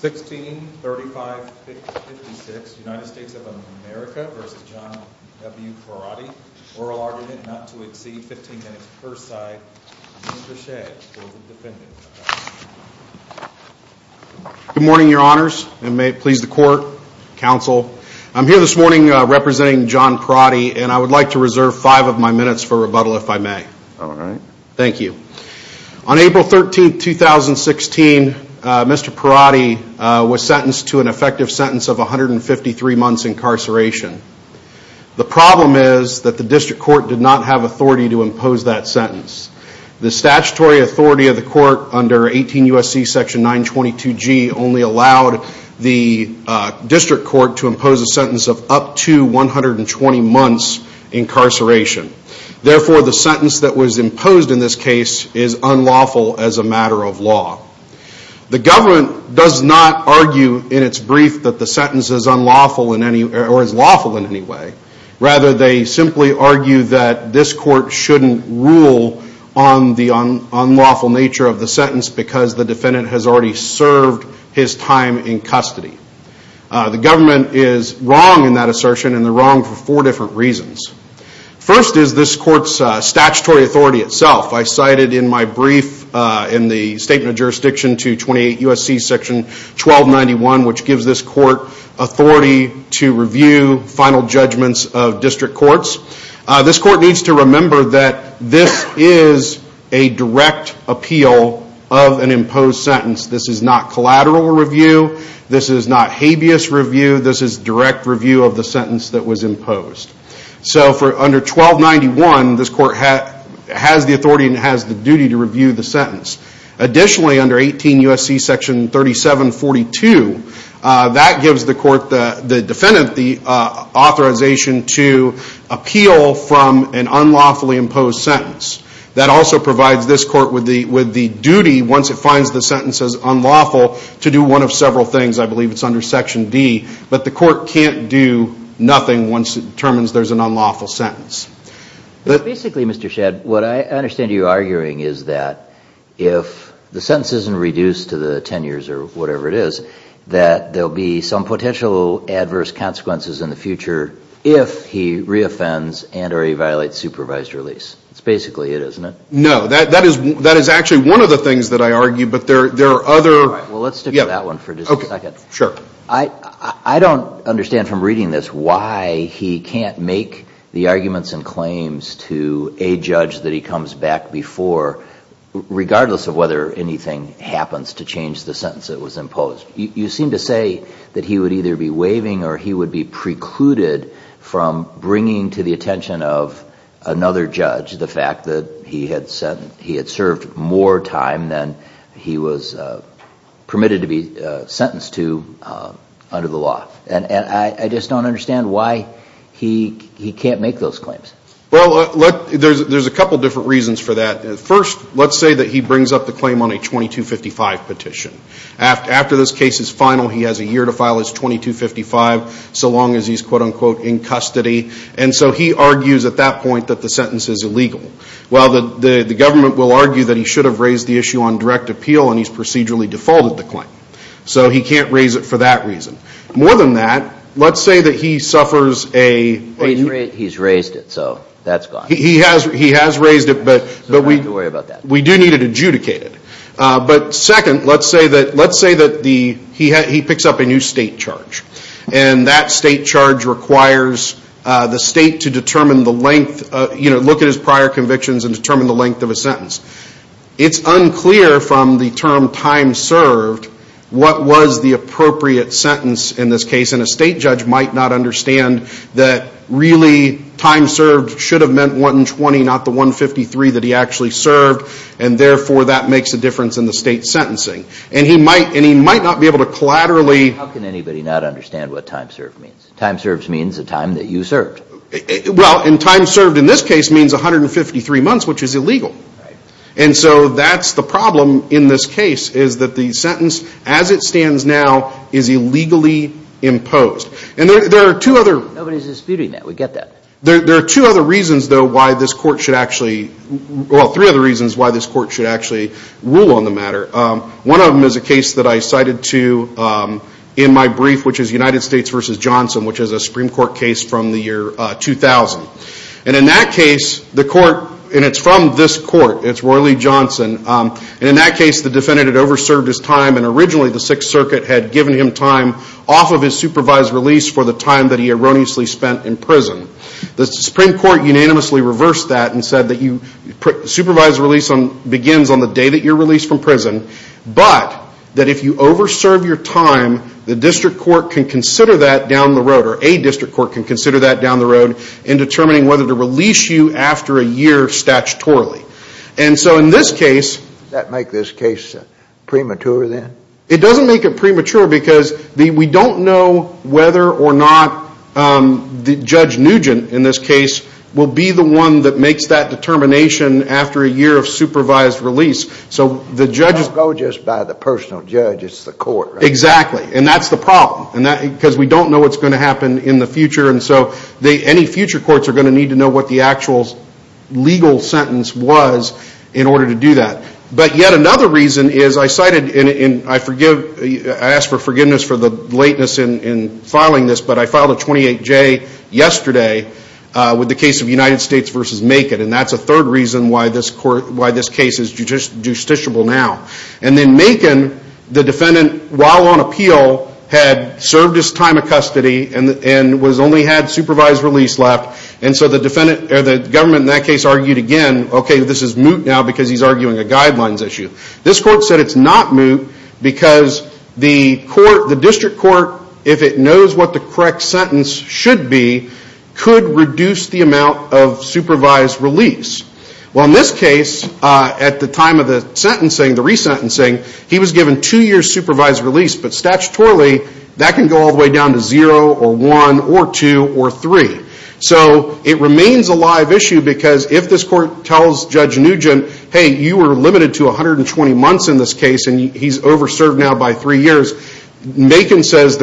163556, United States of America v. John W. Perotti. Oral argument not to exceed 15 minutes per side. Mr. Shea for the defendant. Good morning your honors and may it please the court, counsel. I'm here this morning representing John Perotti and I would like to reserve five of my minutes for rebuttal if I may. All right. Thank you. On April 13, 2016, Mr. Perotti was sentenced to an effective sentence of 153 months incarceration. The problem is that the district court did not have authority to impose that sentence. The statutory authority of the court under 18 U.S.C. section 922G only allowed the district court to impose a sentence of up to 120 months incarceration. Therefore, the sentence that was imposed in this case is unlawful as a matter of law. The government does not argue in its brief that the sentence is unlawful or is lawful in any way. Rather, they simply argue that this court shouldn't rule on the unlawful nature of the sentence because the defendant has already served his time in custody. The government is wrong in that assertion and they're wrong for four different reasons. First is this court's statutory authority itself. I cited in my brief in the statement of jurisdiction to 28 U.S.C. section 1291 which gives this court authority to review final judgments of district courts. This court needs to remember that this is a direct appeal of an imposed sentence. This is not collateral review. This is not habeas review. This is direct review of the sentence that was imposed. Under 1291, this court has the authority and has the duty to review the sentence. Additionally, under 18 U.S.C. section 3742, that gives the defendant the authorization to appeal from an unlawfully imposed sentence. That also provides this court with the duty, once it finds the sentence unlawful, to do one of several things. I believe it's under section D. But the court can't do nothing once it determines there's an unlawful sentence. But basically, Mr. Shedd, what I understand you arguing is that if the sentence isn't reduced to the 10 years or whatever it is, that there'll be some potential adverse consequences in the future if he reoffends and or he violates supervised release. That's basically it, isn't it? No. That is actually one of the things that I argue, but there are other... All right. Well, let's stick with that one for just a second. Sure. I don't understand from reading this why he can't make the arguments and claims to a judge that he comes back before, regardless of whether anything happens to change the sentence that was imposed. You seem to say that he would either be waiving or he would be precluded from bringing to the attention of another judge the fact that he had served more time than he was permitted to be sentenced to under the law. And I just don't understand why he can't make those claims. Well, there's a couple different reasons for that. First, let's say that he brings up the claim on a 2255 petition. After this case is final, he has a year to file his 2255, so long as he's, quote-unquote, in custody. And so he argues at that point that the sentence is illegal. Well, the government will argue that he should have raised the issue on direct appeal and he's procedurally defaulted the claim. So he can't raise it for that reason. More than that, let's say that he suffers a... He's raised it, so that's gone. He has raised it, but we do need it adjudicated. But second, let's say that he picks up a new state charge. And that state charge requires the state to determine the length, you know, look at his prior convictions and determine the length of a sentence. It's unclear from the term time served what was the appropriate sentence in this case. And a state judge might not understand that really time served should have meant 120, not the 153 that he actually served. And therefore, that makes a difference in the state sentencing. And he might not be able to collaterally... How can anybody not understand what time served means? Time served means the time that you served. Well, and time served in this case means 153 months, which is illegal. And so that's the problem in this case is that the sentence as it stands now is illegally imposed. And there are two other... Nobody's disputing that. We get that. There are two other reasons, though, why this court should actually... Well, three other reasons why this court should actually rule on the matter. One of them is a case that I cited to in my brief, which is United States v. Johnson, which is a Supreme Court case from the year 2000. And in that case, the court... And it's from this court. It's Roy Lee Johnson. And in that case, the defendant had over-served his time. And originally, the Sixth Circuit had given him time off of his supervised release for the time that he erroneously spent in prison. The Supreme Court unanimously reversed that and said that you... Supervised release begins on the day that you're released from prison, but that if you over-serve your time, the district court can consider that down the road, or a district court can consider that down the road in determining whether to release you after a year statutorily. And so in this case... Does that make this case premature, then? It doesn't make it premature because we don't know whether or not Judge Nugent, in this case, will be the one that makes that determination after a year of supervised release. So the judge... It doesn't go just by the personal judge. It's the court, right? Exactly. And that's the problem. Because we don't know what's going to happen in the future. And so any future courts are going to need to know what the actual legal sentence was in order to do that. But yet another reason is I cited... And I ask for forgiveness for the lateness in filing this. But I filed a 28-J yesterday with the case of United States v. Macon. And that's a third reason why this case is justiciable now. And then Macon, the defendant, while on appeal, had served his time of custody and only had supervised release left. And so the government in that case argued again, okay, this is moot now because he's arguing a guidelines issue. This court said it's not moot because the district court, if it knows what the correct sentence should be, could reduce the amount of supervised release. Well, in this case, at the time of the sentencing, the resentencing, he was given two years' supervised release. But statutorily, that can go all the way down to zero or one or two or three. So it remains a live issue because if this court tells Judge Nugent, hey, you were limited to 120 months in this case and he's over-served now by three years, Macon says the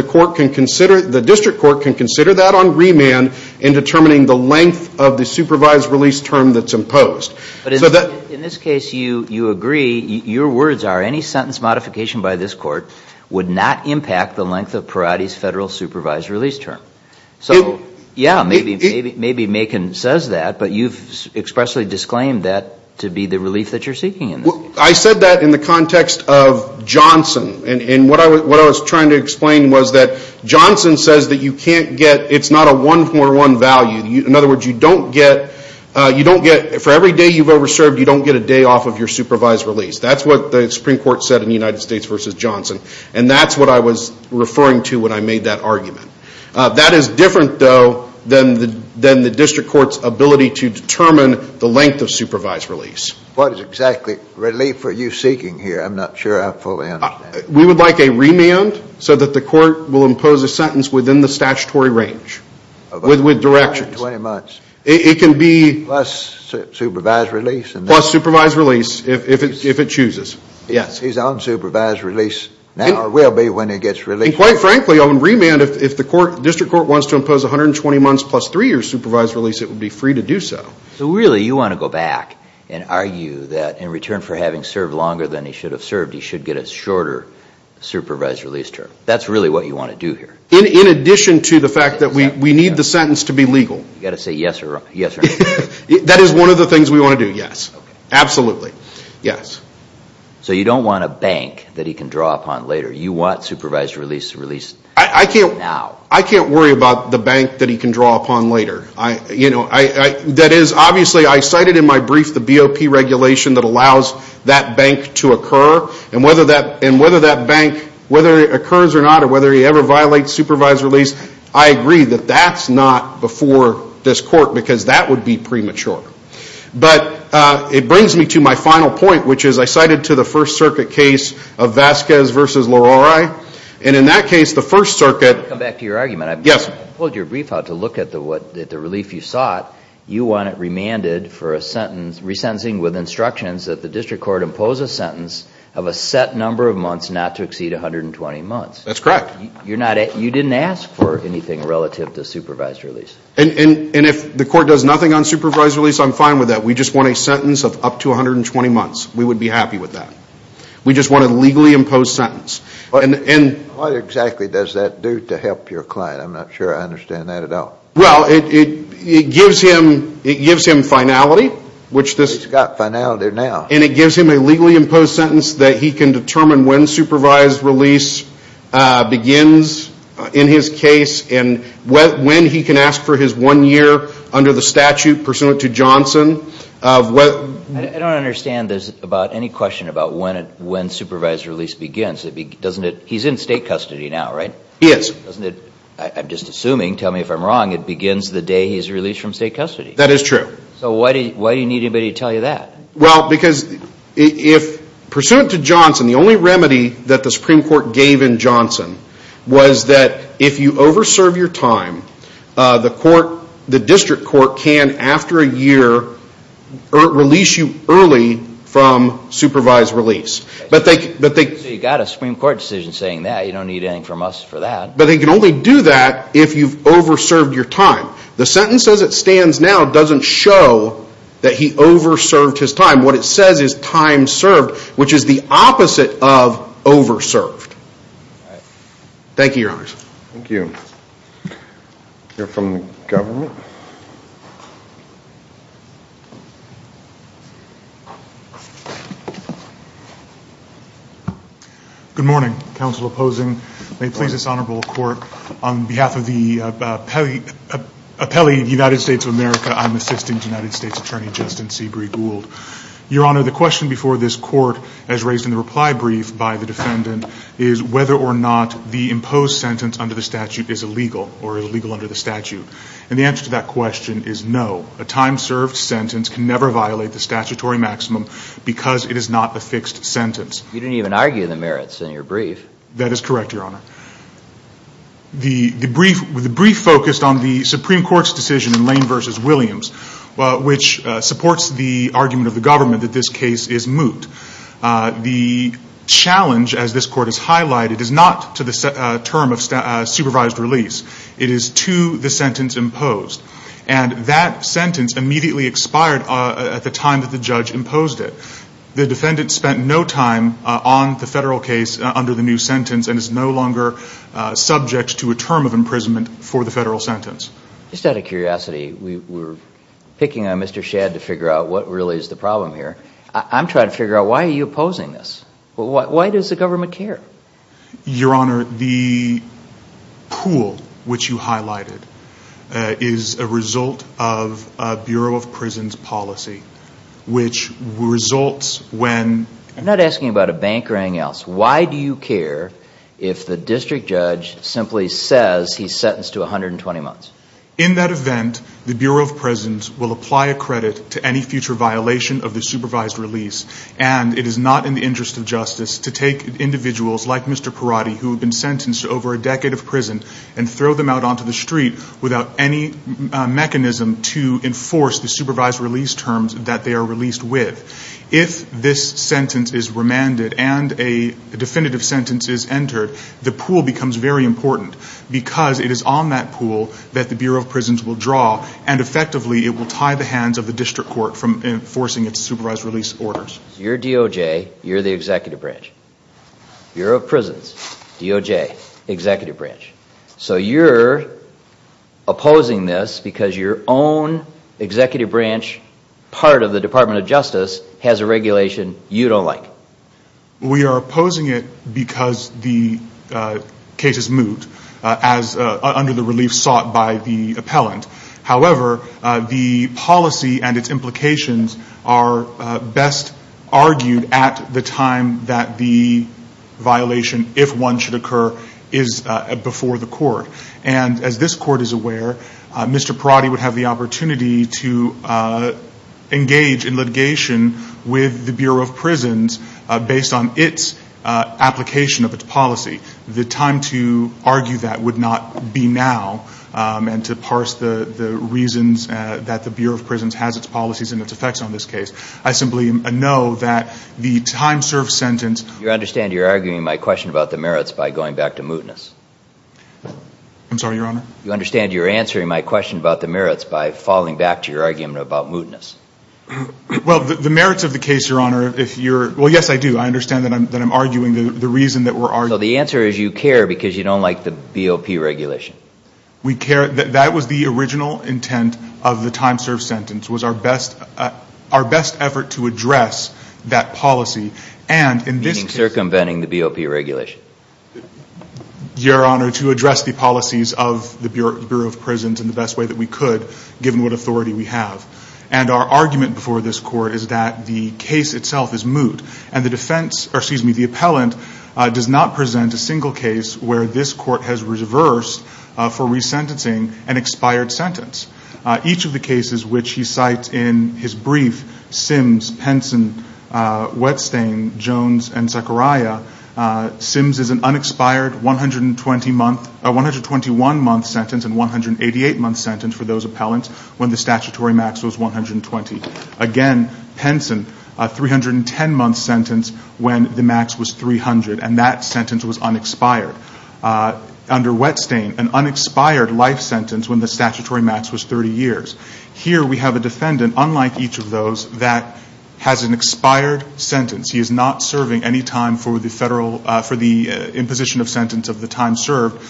district court can consider that on remand in determining the length of the supervised release term that's imposed. But in this case, you agree, your words are any sentence modification by this court would not impact the length of Peratti's federal supervised release term. So, yeah, maybe Macon says that, but you've expressly disclaimed that to be the relief that you're seeking in this case. I said that in the context of Johnson. And what I was trying to explain was that Johnson says that you can't get, it's not a one-for-one value. In other words, you don't get, you don't get, for every day you've over-served, you don't get a day off of your supervised release. That's what the Supreme Court said in the United States v. Johnson. And that's what I was referring to when I made that argument. That is different, though, than the district court's ability to determine the length of supervised release. What is exactly relief are you seeking here? I'm not sure I fully understand. We would like a remand so that the court will impose a sentence within the statutory range. With directions. 120 months. It can be. Plus supervised release. Plus supervised release, if it chooses. Yes. His unsupervised release now will be when it gets released. And quite frankly, on remand, if the court, district court, wants to impose 120 months plus three years supervised release, it would be free to do so. So really you want to go back and argue that in return for having served longer than he should have served, he should get a shorter supervised release term. That's really what you want to do here. In addition to the fact that we need the sentence to be legal. You've got to say yes or no. That is one of the things we want to do, yes. Absolutely. Yes. So you don't want a bank that he can draw upon later. You want supervised release to release now. I can't worry about the bank that he can draw upon later. That is, obviously, I cited in my brief the BOP regulation that allows that bank to occur. And whether that bank, whether it occurs or not, or whether he ever violates supervised release, I agree that that's not before this court because that would be premature. But it brings me to my final point, which is I cited to the First Circuit case of Vasquez v. Leroy. And in that case, the First Circuit. Let me come back to your argument. Yes. You pulled your brief out to look at the relief you sought. You want it remanded for a sentence, resentencing with instructions that the district court impose a sentence of a set number of months not to exceed 120 months. That's correct. You didn't ask for anything relative to supervised release. And if the court does nothing on supervised release, I'm fine with that. We just want a sentence of up to 120 months. We would be happy with that. We just want a legally imposed sentence. What exactly does that do to help your client? I'm not sure I understand that at all. Well, it gives him finality. He's got finality now. And it gives him a legally imposed sentence that he can determine when supervised release begins in his case and when he can ask for his one year under the statute pursuant to Johnson. I don't understand any question about when supervised release begins. He's in state custody now, right? He is. I'm just assuming, tell me if I'm wrong, it begins the day he's released from state custody. That is true. So why do you need anybody to tell you that? Well, because if pursuant to Johnson, the only remedy that the Supreme Court gave in Johnson was that if you over serve your time, the district court can, after a year, release you early from supervised release. So you've got a Supreme Court decision saying that. You don't need anything from us for that. But they can only do that if you've over served your time. The sentence as it stands now doesn't show that he over served his time. What it says is time served, which is the opposite of over served. Thank you, Your Honor. Thank you. We'll hear from the government. Good morning. Counsel opposing. May it please this honorable court, on behalf of the appellee of the United States of America, I'm Assistant United States Attorney Justin Seabree Gould. Your Honor, the question before this court, as raised in the reply brief by the defendant, is whether or not the imposed sentence under the statute is illegal or illegal under the statute. And the answer to that question is no. A time served sentence can never violate the statutory maximum because it is not a fixed sentence. You didn't even argue the merits in your brief. That is correct, Your Honor. The brief focused on the Supreme Court's decision in Lane v. Williams, which supports the argument of the government that this case is moot. The challenge, as this court has highlighted, is not to the term of supervised release. It is to the sentence imposed. And that sentence immediately expired at the time that the judge imposed it. The defendant spent no time on the federal case under the new sentence and is no longer subject to a term of imprisonment for the federal sentence. Just out of curiosity, we were picking on Mr. Shadd to figure out what really is the problem here. I'm trying to figure out why are you opposing this. Why does the government care? Your Honor, the pool which you highlighted is a result of a Bureau of Prisons policy, which results when— I'm not asking about a bank or anything else. Why do you care if the district judge simply says he's sentenced to 120 months? In that event, the Bureau of Prisons will apply a credit to any future violation of the supervised release, and it is not in the interest of justice to take individuals like Mr. Perotti, who have been sentenced to over a decade of prison, and throw them out onto the street without any mechanism to enforce the supervised release terms that they are released with. If this sentence is remanded and a definitive sentence is entered, the pool becomes very important because it is on that pool that the Bureau of Prisons will draw, and effectively it will tie the hands of the district court from enforcing its supervised release orders. You're DOJ, you're the executive branch. Bureau of Prisons, DOJ, executive branch. So you're opposing this because your own executive branch, part of the Department of Justice, has a regulation you don't like. We are opposing it because the case is moot, under the relief sought by the appellant. However, the policy and its implications are best argued at the time that the violation, if one should occur, is before the court. And as this court is aware, Mr. Perotti would have the opportunity to engage in litigation with the Bureau of Prisons based on its application of its policy. The time to argue that would not be now, and to parse the reasons that the Bureau of Prisons has its policies and its effects on this case. I simply know that the time-served sentence... I understand you're arguing my question about the merits by going back to mootness. I'm sorry, Your Honor? You understand you're answering my question about the merits by falling back to your argument about mootness. Well, the merits of the case, Your Honor, if you're – well, yes, I do. I understand that I'm arguing the reason that we're arguing... So the answer is you care because you don't like the BOP regulation. We care – that was the original intent of the time-served sentence, was our best effort to address that policy. And in this case... You're circumventing the BOP regulation. Your Honor, to address the policies of the Bureau of Prisons in the best way that we could, given what authority we have. And our argument before this court is that the case itself is moot. And the defense – or, excuse me, the appellant does not present a single case where this court has reversed for resentencing an expired sentence. Each of the cases which he cites in his brief, Sims, Penson, Whetstain, Jones, and Zechariah, Sims is an unexpired 120-month – 121-month sentence and 188-month sentence for those appellants when the statutory max was 120. Again, Penson, a 310-month sentence when the max was 300, and that sentence was unexpired. Under Whetstain, an unexpired life sentence when the statutory max was 30 years. Here we have a defendant, unlike each of those, that has an expired sentence. He is not serving any time for the federal – for the imposition of sentence of the time served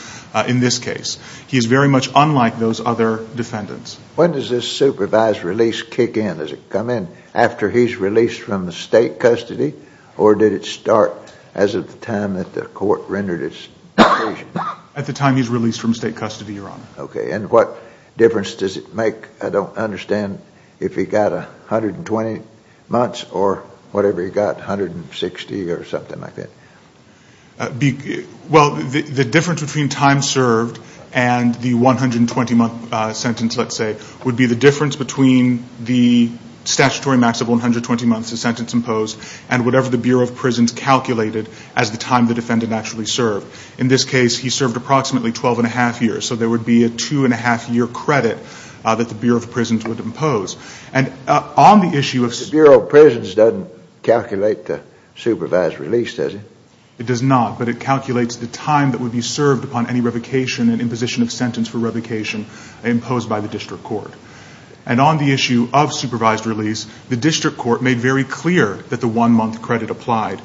in this case. He is very much unlike those other defendants. When does this supervised release kick in? Does it come in after he's released from the state custody, or did it start as of the time that the court rendered its decision? At the time he's released from state custody, Your Honor. Okay, and what difference does it make? I don't understand if he got 120 months or whatever he got, 160 or something like that. Well, the difference between time served and the 120-month sentence, let's say, would be the difference between the statutory max of 120 months, the sentence imposed, and whatever the Bureau of Prisons calculated as the time the defendant actually served. In this case, he served approximately 12-and-a-half years, so there would be a 2-and-a-half-year credit that the Bureau of Prisons would impose. And on the issue of – The Bureau of Prisons doesn't calculate the supervised release, does it? It does not, but it calculates the time that would be served upon any revocation and imposition of sentence for revocation imposed by the district court. And on the issue of supervised release, the district court made very clear that the one-month credit applied.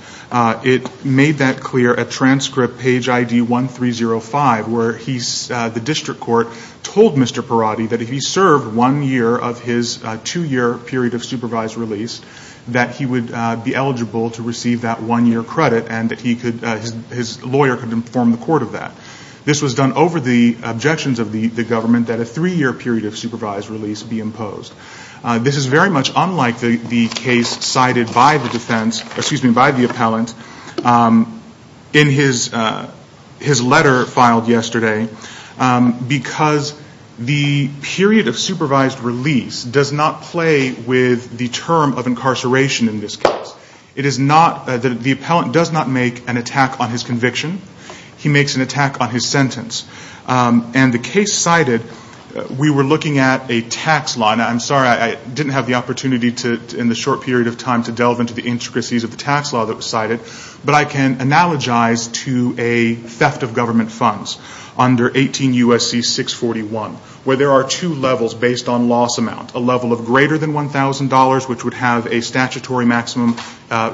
It made that clear at transcript page ID 1305, where the district court told Mr. Perotti that if he served one year of his two-year period of supervised release, that he would be eligible to receive that one-year credit, and that his lawyer could inform the court of that. This was done over the objections of the government that a three-year period of supervised release be imposed. This is very much unlike the case cited by the defense – excuse me, by the appellant in his letter filed yesterday, because the period of supervised release does not play with the term of incarceration in this case. It is not – the appellant does not make an attack on his conviction. He makes an attack on his sentence. And the case cited, we were looking at a tax law. Now, I'm sorry I didn't have the opportunity to, in the short period of time, to delve into the intricacies of the tax law that was cited, but I can analogize to a theft of government funds under 18 U.S.C. 641, where there are two levels based on loss amount, a level of greater than $1,000, which would have a statutory maximum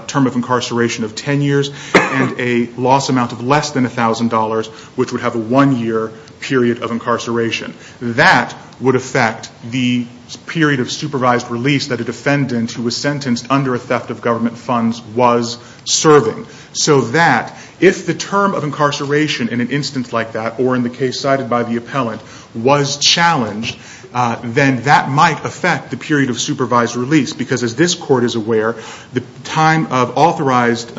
term of incarceration of 10 years, and a loss amount of less than $1,000, which would have a one-year period of incarceration. That would affect the period of supervised release that a defendant who was sentenced under a theft of government funds was serving, so that if the term of incarceration in an instance like that, or in the case cited by the appellant, was challenged, then that might affect the period of supervised release, because as this Court is aware, the time of authorized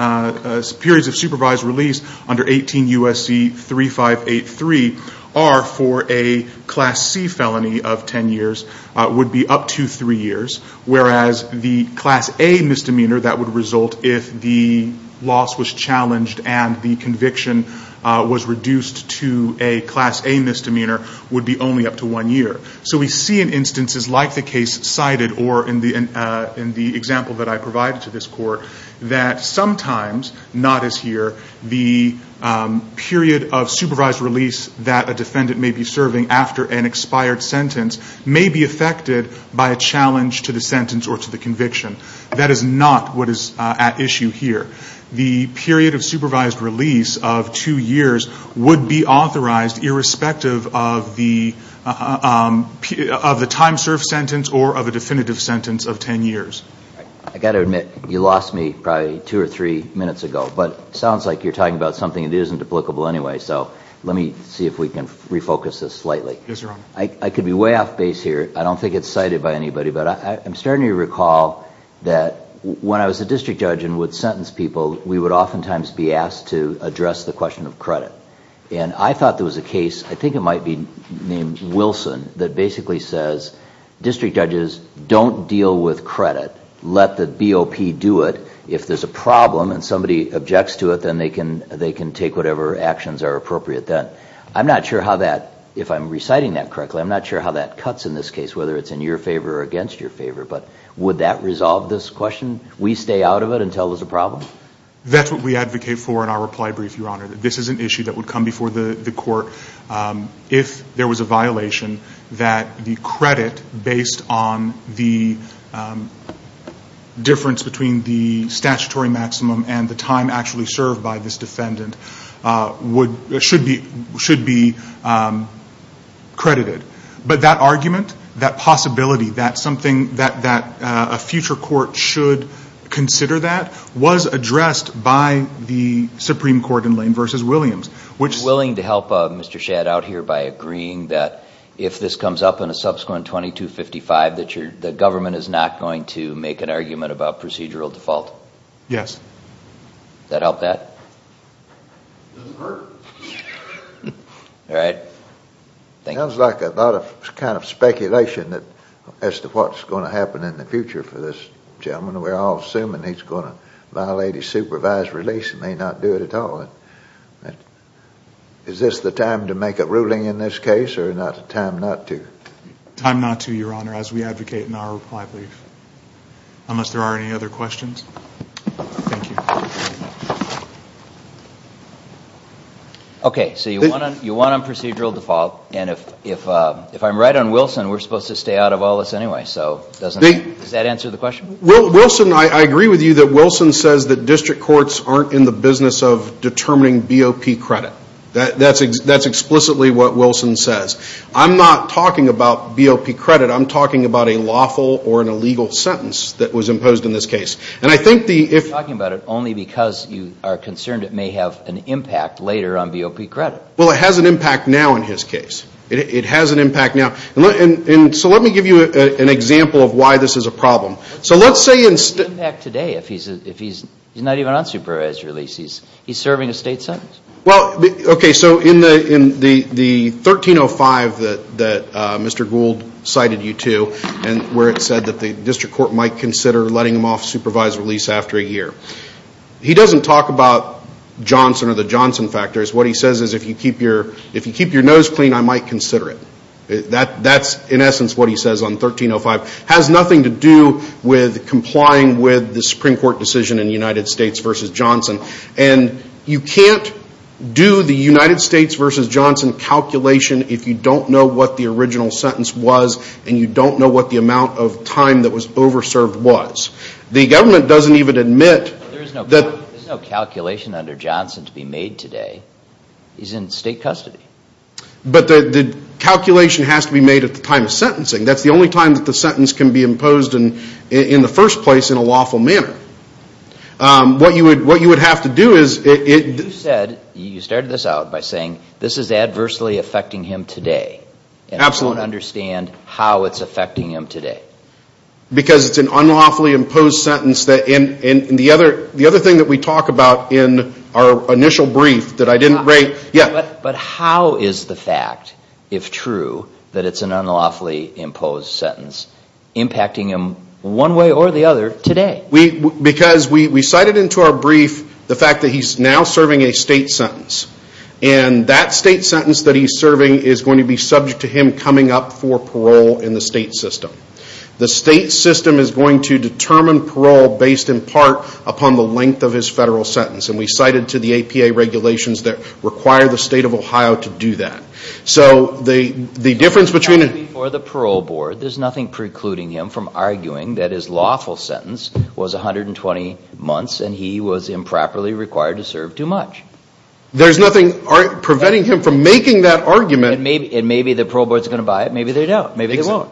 periods of supervised release under 18 U.S.C. 3583 are for a Class C felony of 10 years, would be up to three years, whereas the Class A misdemeanor that would result if the loss was challenged and the conviction was reduced to a Class A misdemeanor would be only up to one year. So we see in instances like the case cited, or in the example that I provided to this Court, that sometimes, not as here, the period of supervised release that a defendant may be serving after an expired sentence may be affected by a challenge to the sentence or to the conviction. That is not what is at issue here. The period of supervised release of two years would be authorized irrespective of the time served sentence or of a definitive sentence of 10 years. I've got to admit, you lost me probably two or three minutes ago, but it sounds like you're talking about something that isn't applicable anyway, so let me see if we can refocus this slightly. Yes, Your Honor. I could be way off base here, I don't think it's cited by anybody, but I'm starting to recall that when I was a district judge and would sentence people, we would oftentimes be asked to address the question of credit. And I thought there was a case, I think it might be named Wilson, that basically says district judges don't deal with credit, let the BOP do it. If there's a problem and somebody objects to it, then they can take whatever actions are appropriate. I'm not sure how that, if I'm reciting that correctly, I'm not sure how that cuts in this case, whether it's in your favor or against your favor. But would that resolve this question? We stay out of it until there's a problem? That's what we advocate for in our reply brief, Your Honor, that this is an issue that would come before the court if there was a violation that the credit based on the difference between the statutory maximum and the time actually served by this defendant should be credited. But that argument, that possibility, that something that a future court should consider that was addressed by the Supreme Court in Lane v. Williams. Are you willing to help Mr. Shadd out here by agreeing that if this comes up in a subsequent 2255 that the government is not going to make an argument about procedural default? Yes. Does that help that? It doesn't hurt. All right. Sounds like a lot of kind of speculation as to what's going to happen in the future for this gentleman. We're all assuming he's going to violate his supervised release and may not do it at all. Is this the time to make a ruling in this case or time not to? Time not to, Your Honor, as we advocate in our reply brief. Thank you. Okay. So you want on procedural default. And if I'm right on Wilson, we're supposed to stay out of all this anyway. So does that answer the question? Wilson, I agree with you that Wilson says that district courts aren't in the business of determining BOP credit. That's explicitly what Wilson says. I'm not talking about BOP credit. I'm talking about a lawful or an illegal sentence that was imposed in this case. And I think the You're talking about it only because you are concerned it may have an impact later on BOP credit. Well, it has an impact now in his case. It has an impact now. And so let me give you an example of why this is a problem. So let's say What's the impact today if he's not even on supervised release? He's serving a state sentence. Well, okay, so in the 1305 that Mr. Gould cited you to where it said that the district court might consider letting him off supervised release after a year. He doesn't talk about Johnson or the Johnson factors. What he says is if you keep your nose clean, I might consider it. That's in essence what he says on 1305. It has nothing to do with complying with the Supreme Court decision in the United States v. Johnson. And you can't do the United States v. Johnson calculation if you don't know what the original sentence was and you don't know what the amount of time that was over served was. The government doesn't even admit that There's no calculation under Johnson to be made today. He's in state custody. But the calculation has to be made at the time of sentencing. That's the only time that the sentence can be imposed in the first place in a lawful manner. What you would have to do is You started this out by saying this is adversely affecting him today. And I don't understand how it's affecting him today. Because it's an unlawfully imposed sentence. The other thing that we talk about in our initial brief that I didn't rate But how is the fact, if true, that it's an unlawfully imposed sentence impacting him one way or the other today? Because we cited into our brief the fact that he's now serving a state sentence. And that state sentence that he's serving is going to be subject to him coming up for parole in the state system. The state system is going to determine parole based in part upon the length of his federal sentence. And we cited to the APA regulations that require the state of Ohio to do that. So the difference between For the parole board, there's nothing precluding him from arguing that his lawful sentence was 120 months and he was improperly required to serve too much. There's nothing preventing him from making that argument. And maybe the parole board is going to buy it. Maybe they don't. Maybe they won't.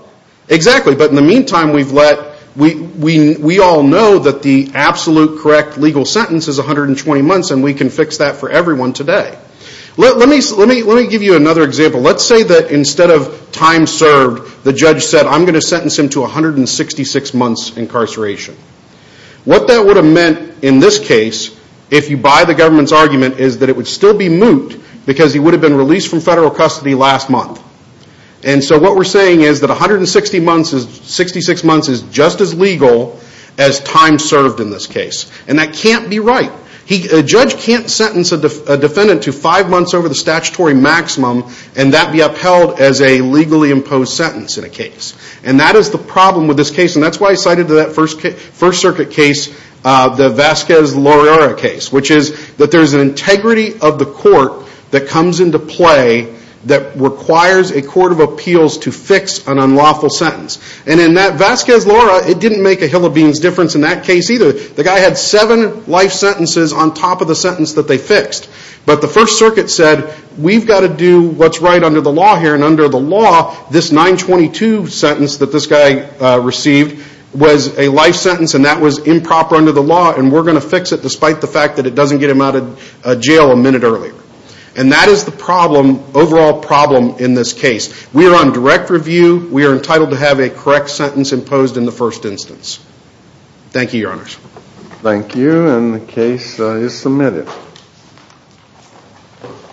Exactly. But in the meantime, we've let We all know that the absolute correct legal sentence is 120 months and we can fix that for everyone today. Let me give you another example. Let's say that instead of time served, the judge said I'm going to sentence him to 166 months incarceration. What that would have meant in this case, if you buy the government's argument is that it would still be moot because he would have been released from federal custody last month. And so what we're saying is that 166 months is just as legal as time served in this case. And that can't be right. A judge can't sentence a defendant to 5 months over the statutory maximum and that be upheld as a legally imposed sentence in a case. And that is the problem with this case. And that's why I cited to that First Circuit case the Vasquez-Loriara case which is that there's an integrity of the court that comes into play that requires a court of appeals to fix an unlawful sentence. And in that Vasquez-Loriara, it didn't make a hill of beans difference in that case either. The guy had seven life sentences on top of the sentence that they fixed. But the First Circuit said, we've got to do what's right under the law here. And under the law, this 922 sentence that this guy received was a life sentence and that was improper under the law and we're going to fix it despite the fact that it doesn't get him out of jail a minute earlier. And that is the problem, overall problem, in this case. We are on direct review. We are entitled to have a correct sentence imposed in the first instance. Thank you, Your Honors. Thank you, and the case is submitted.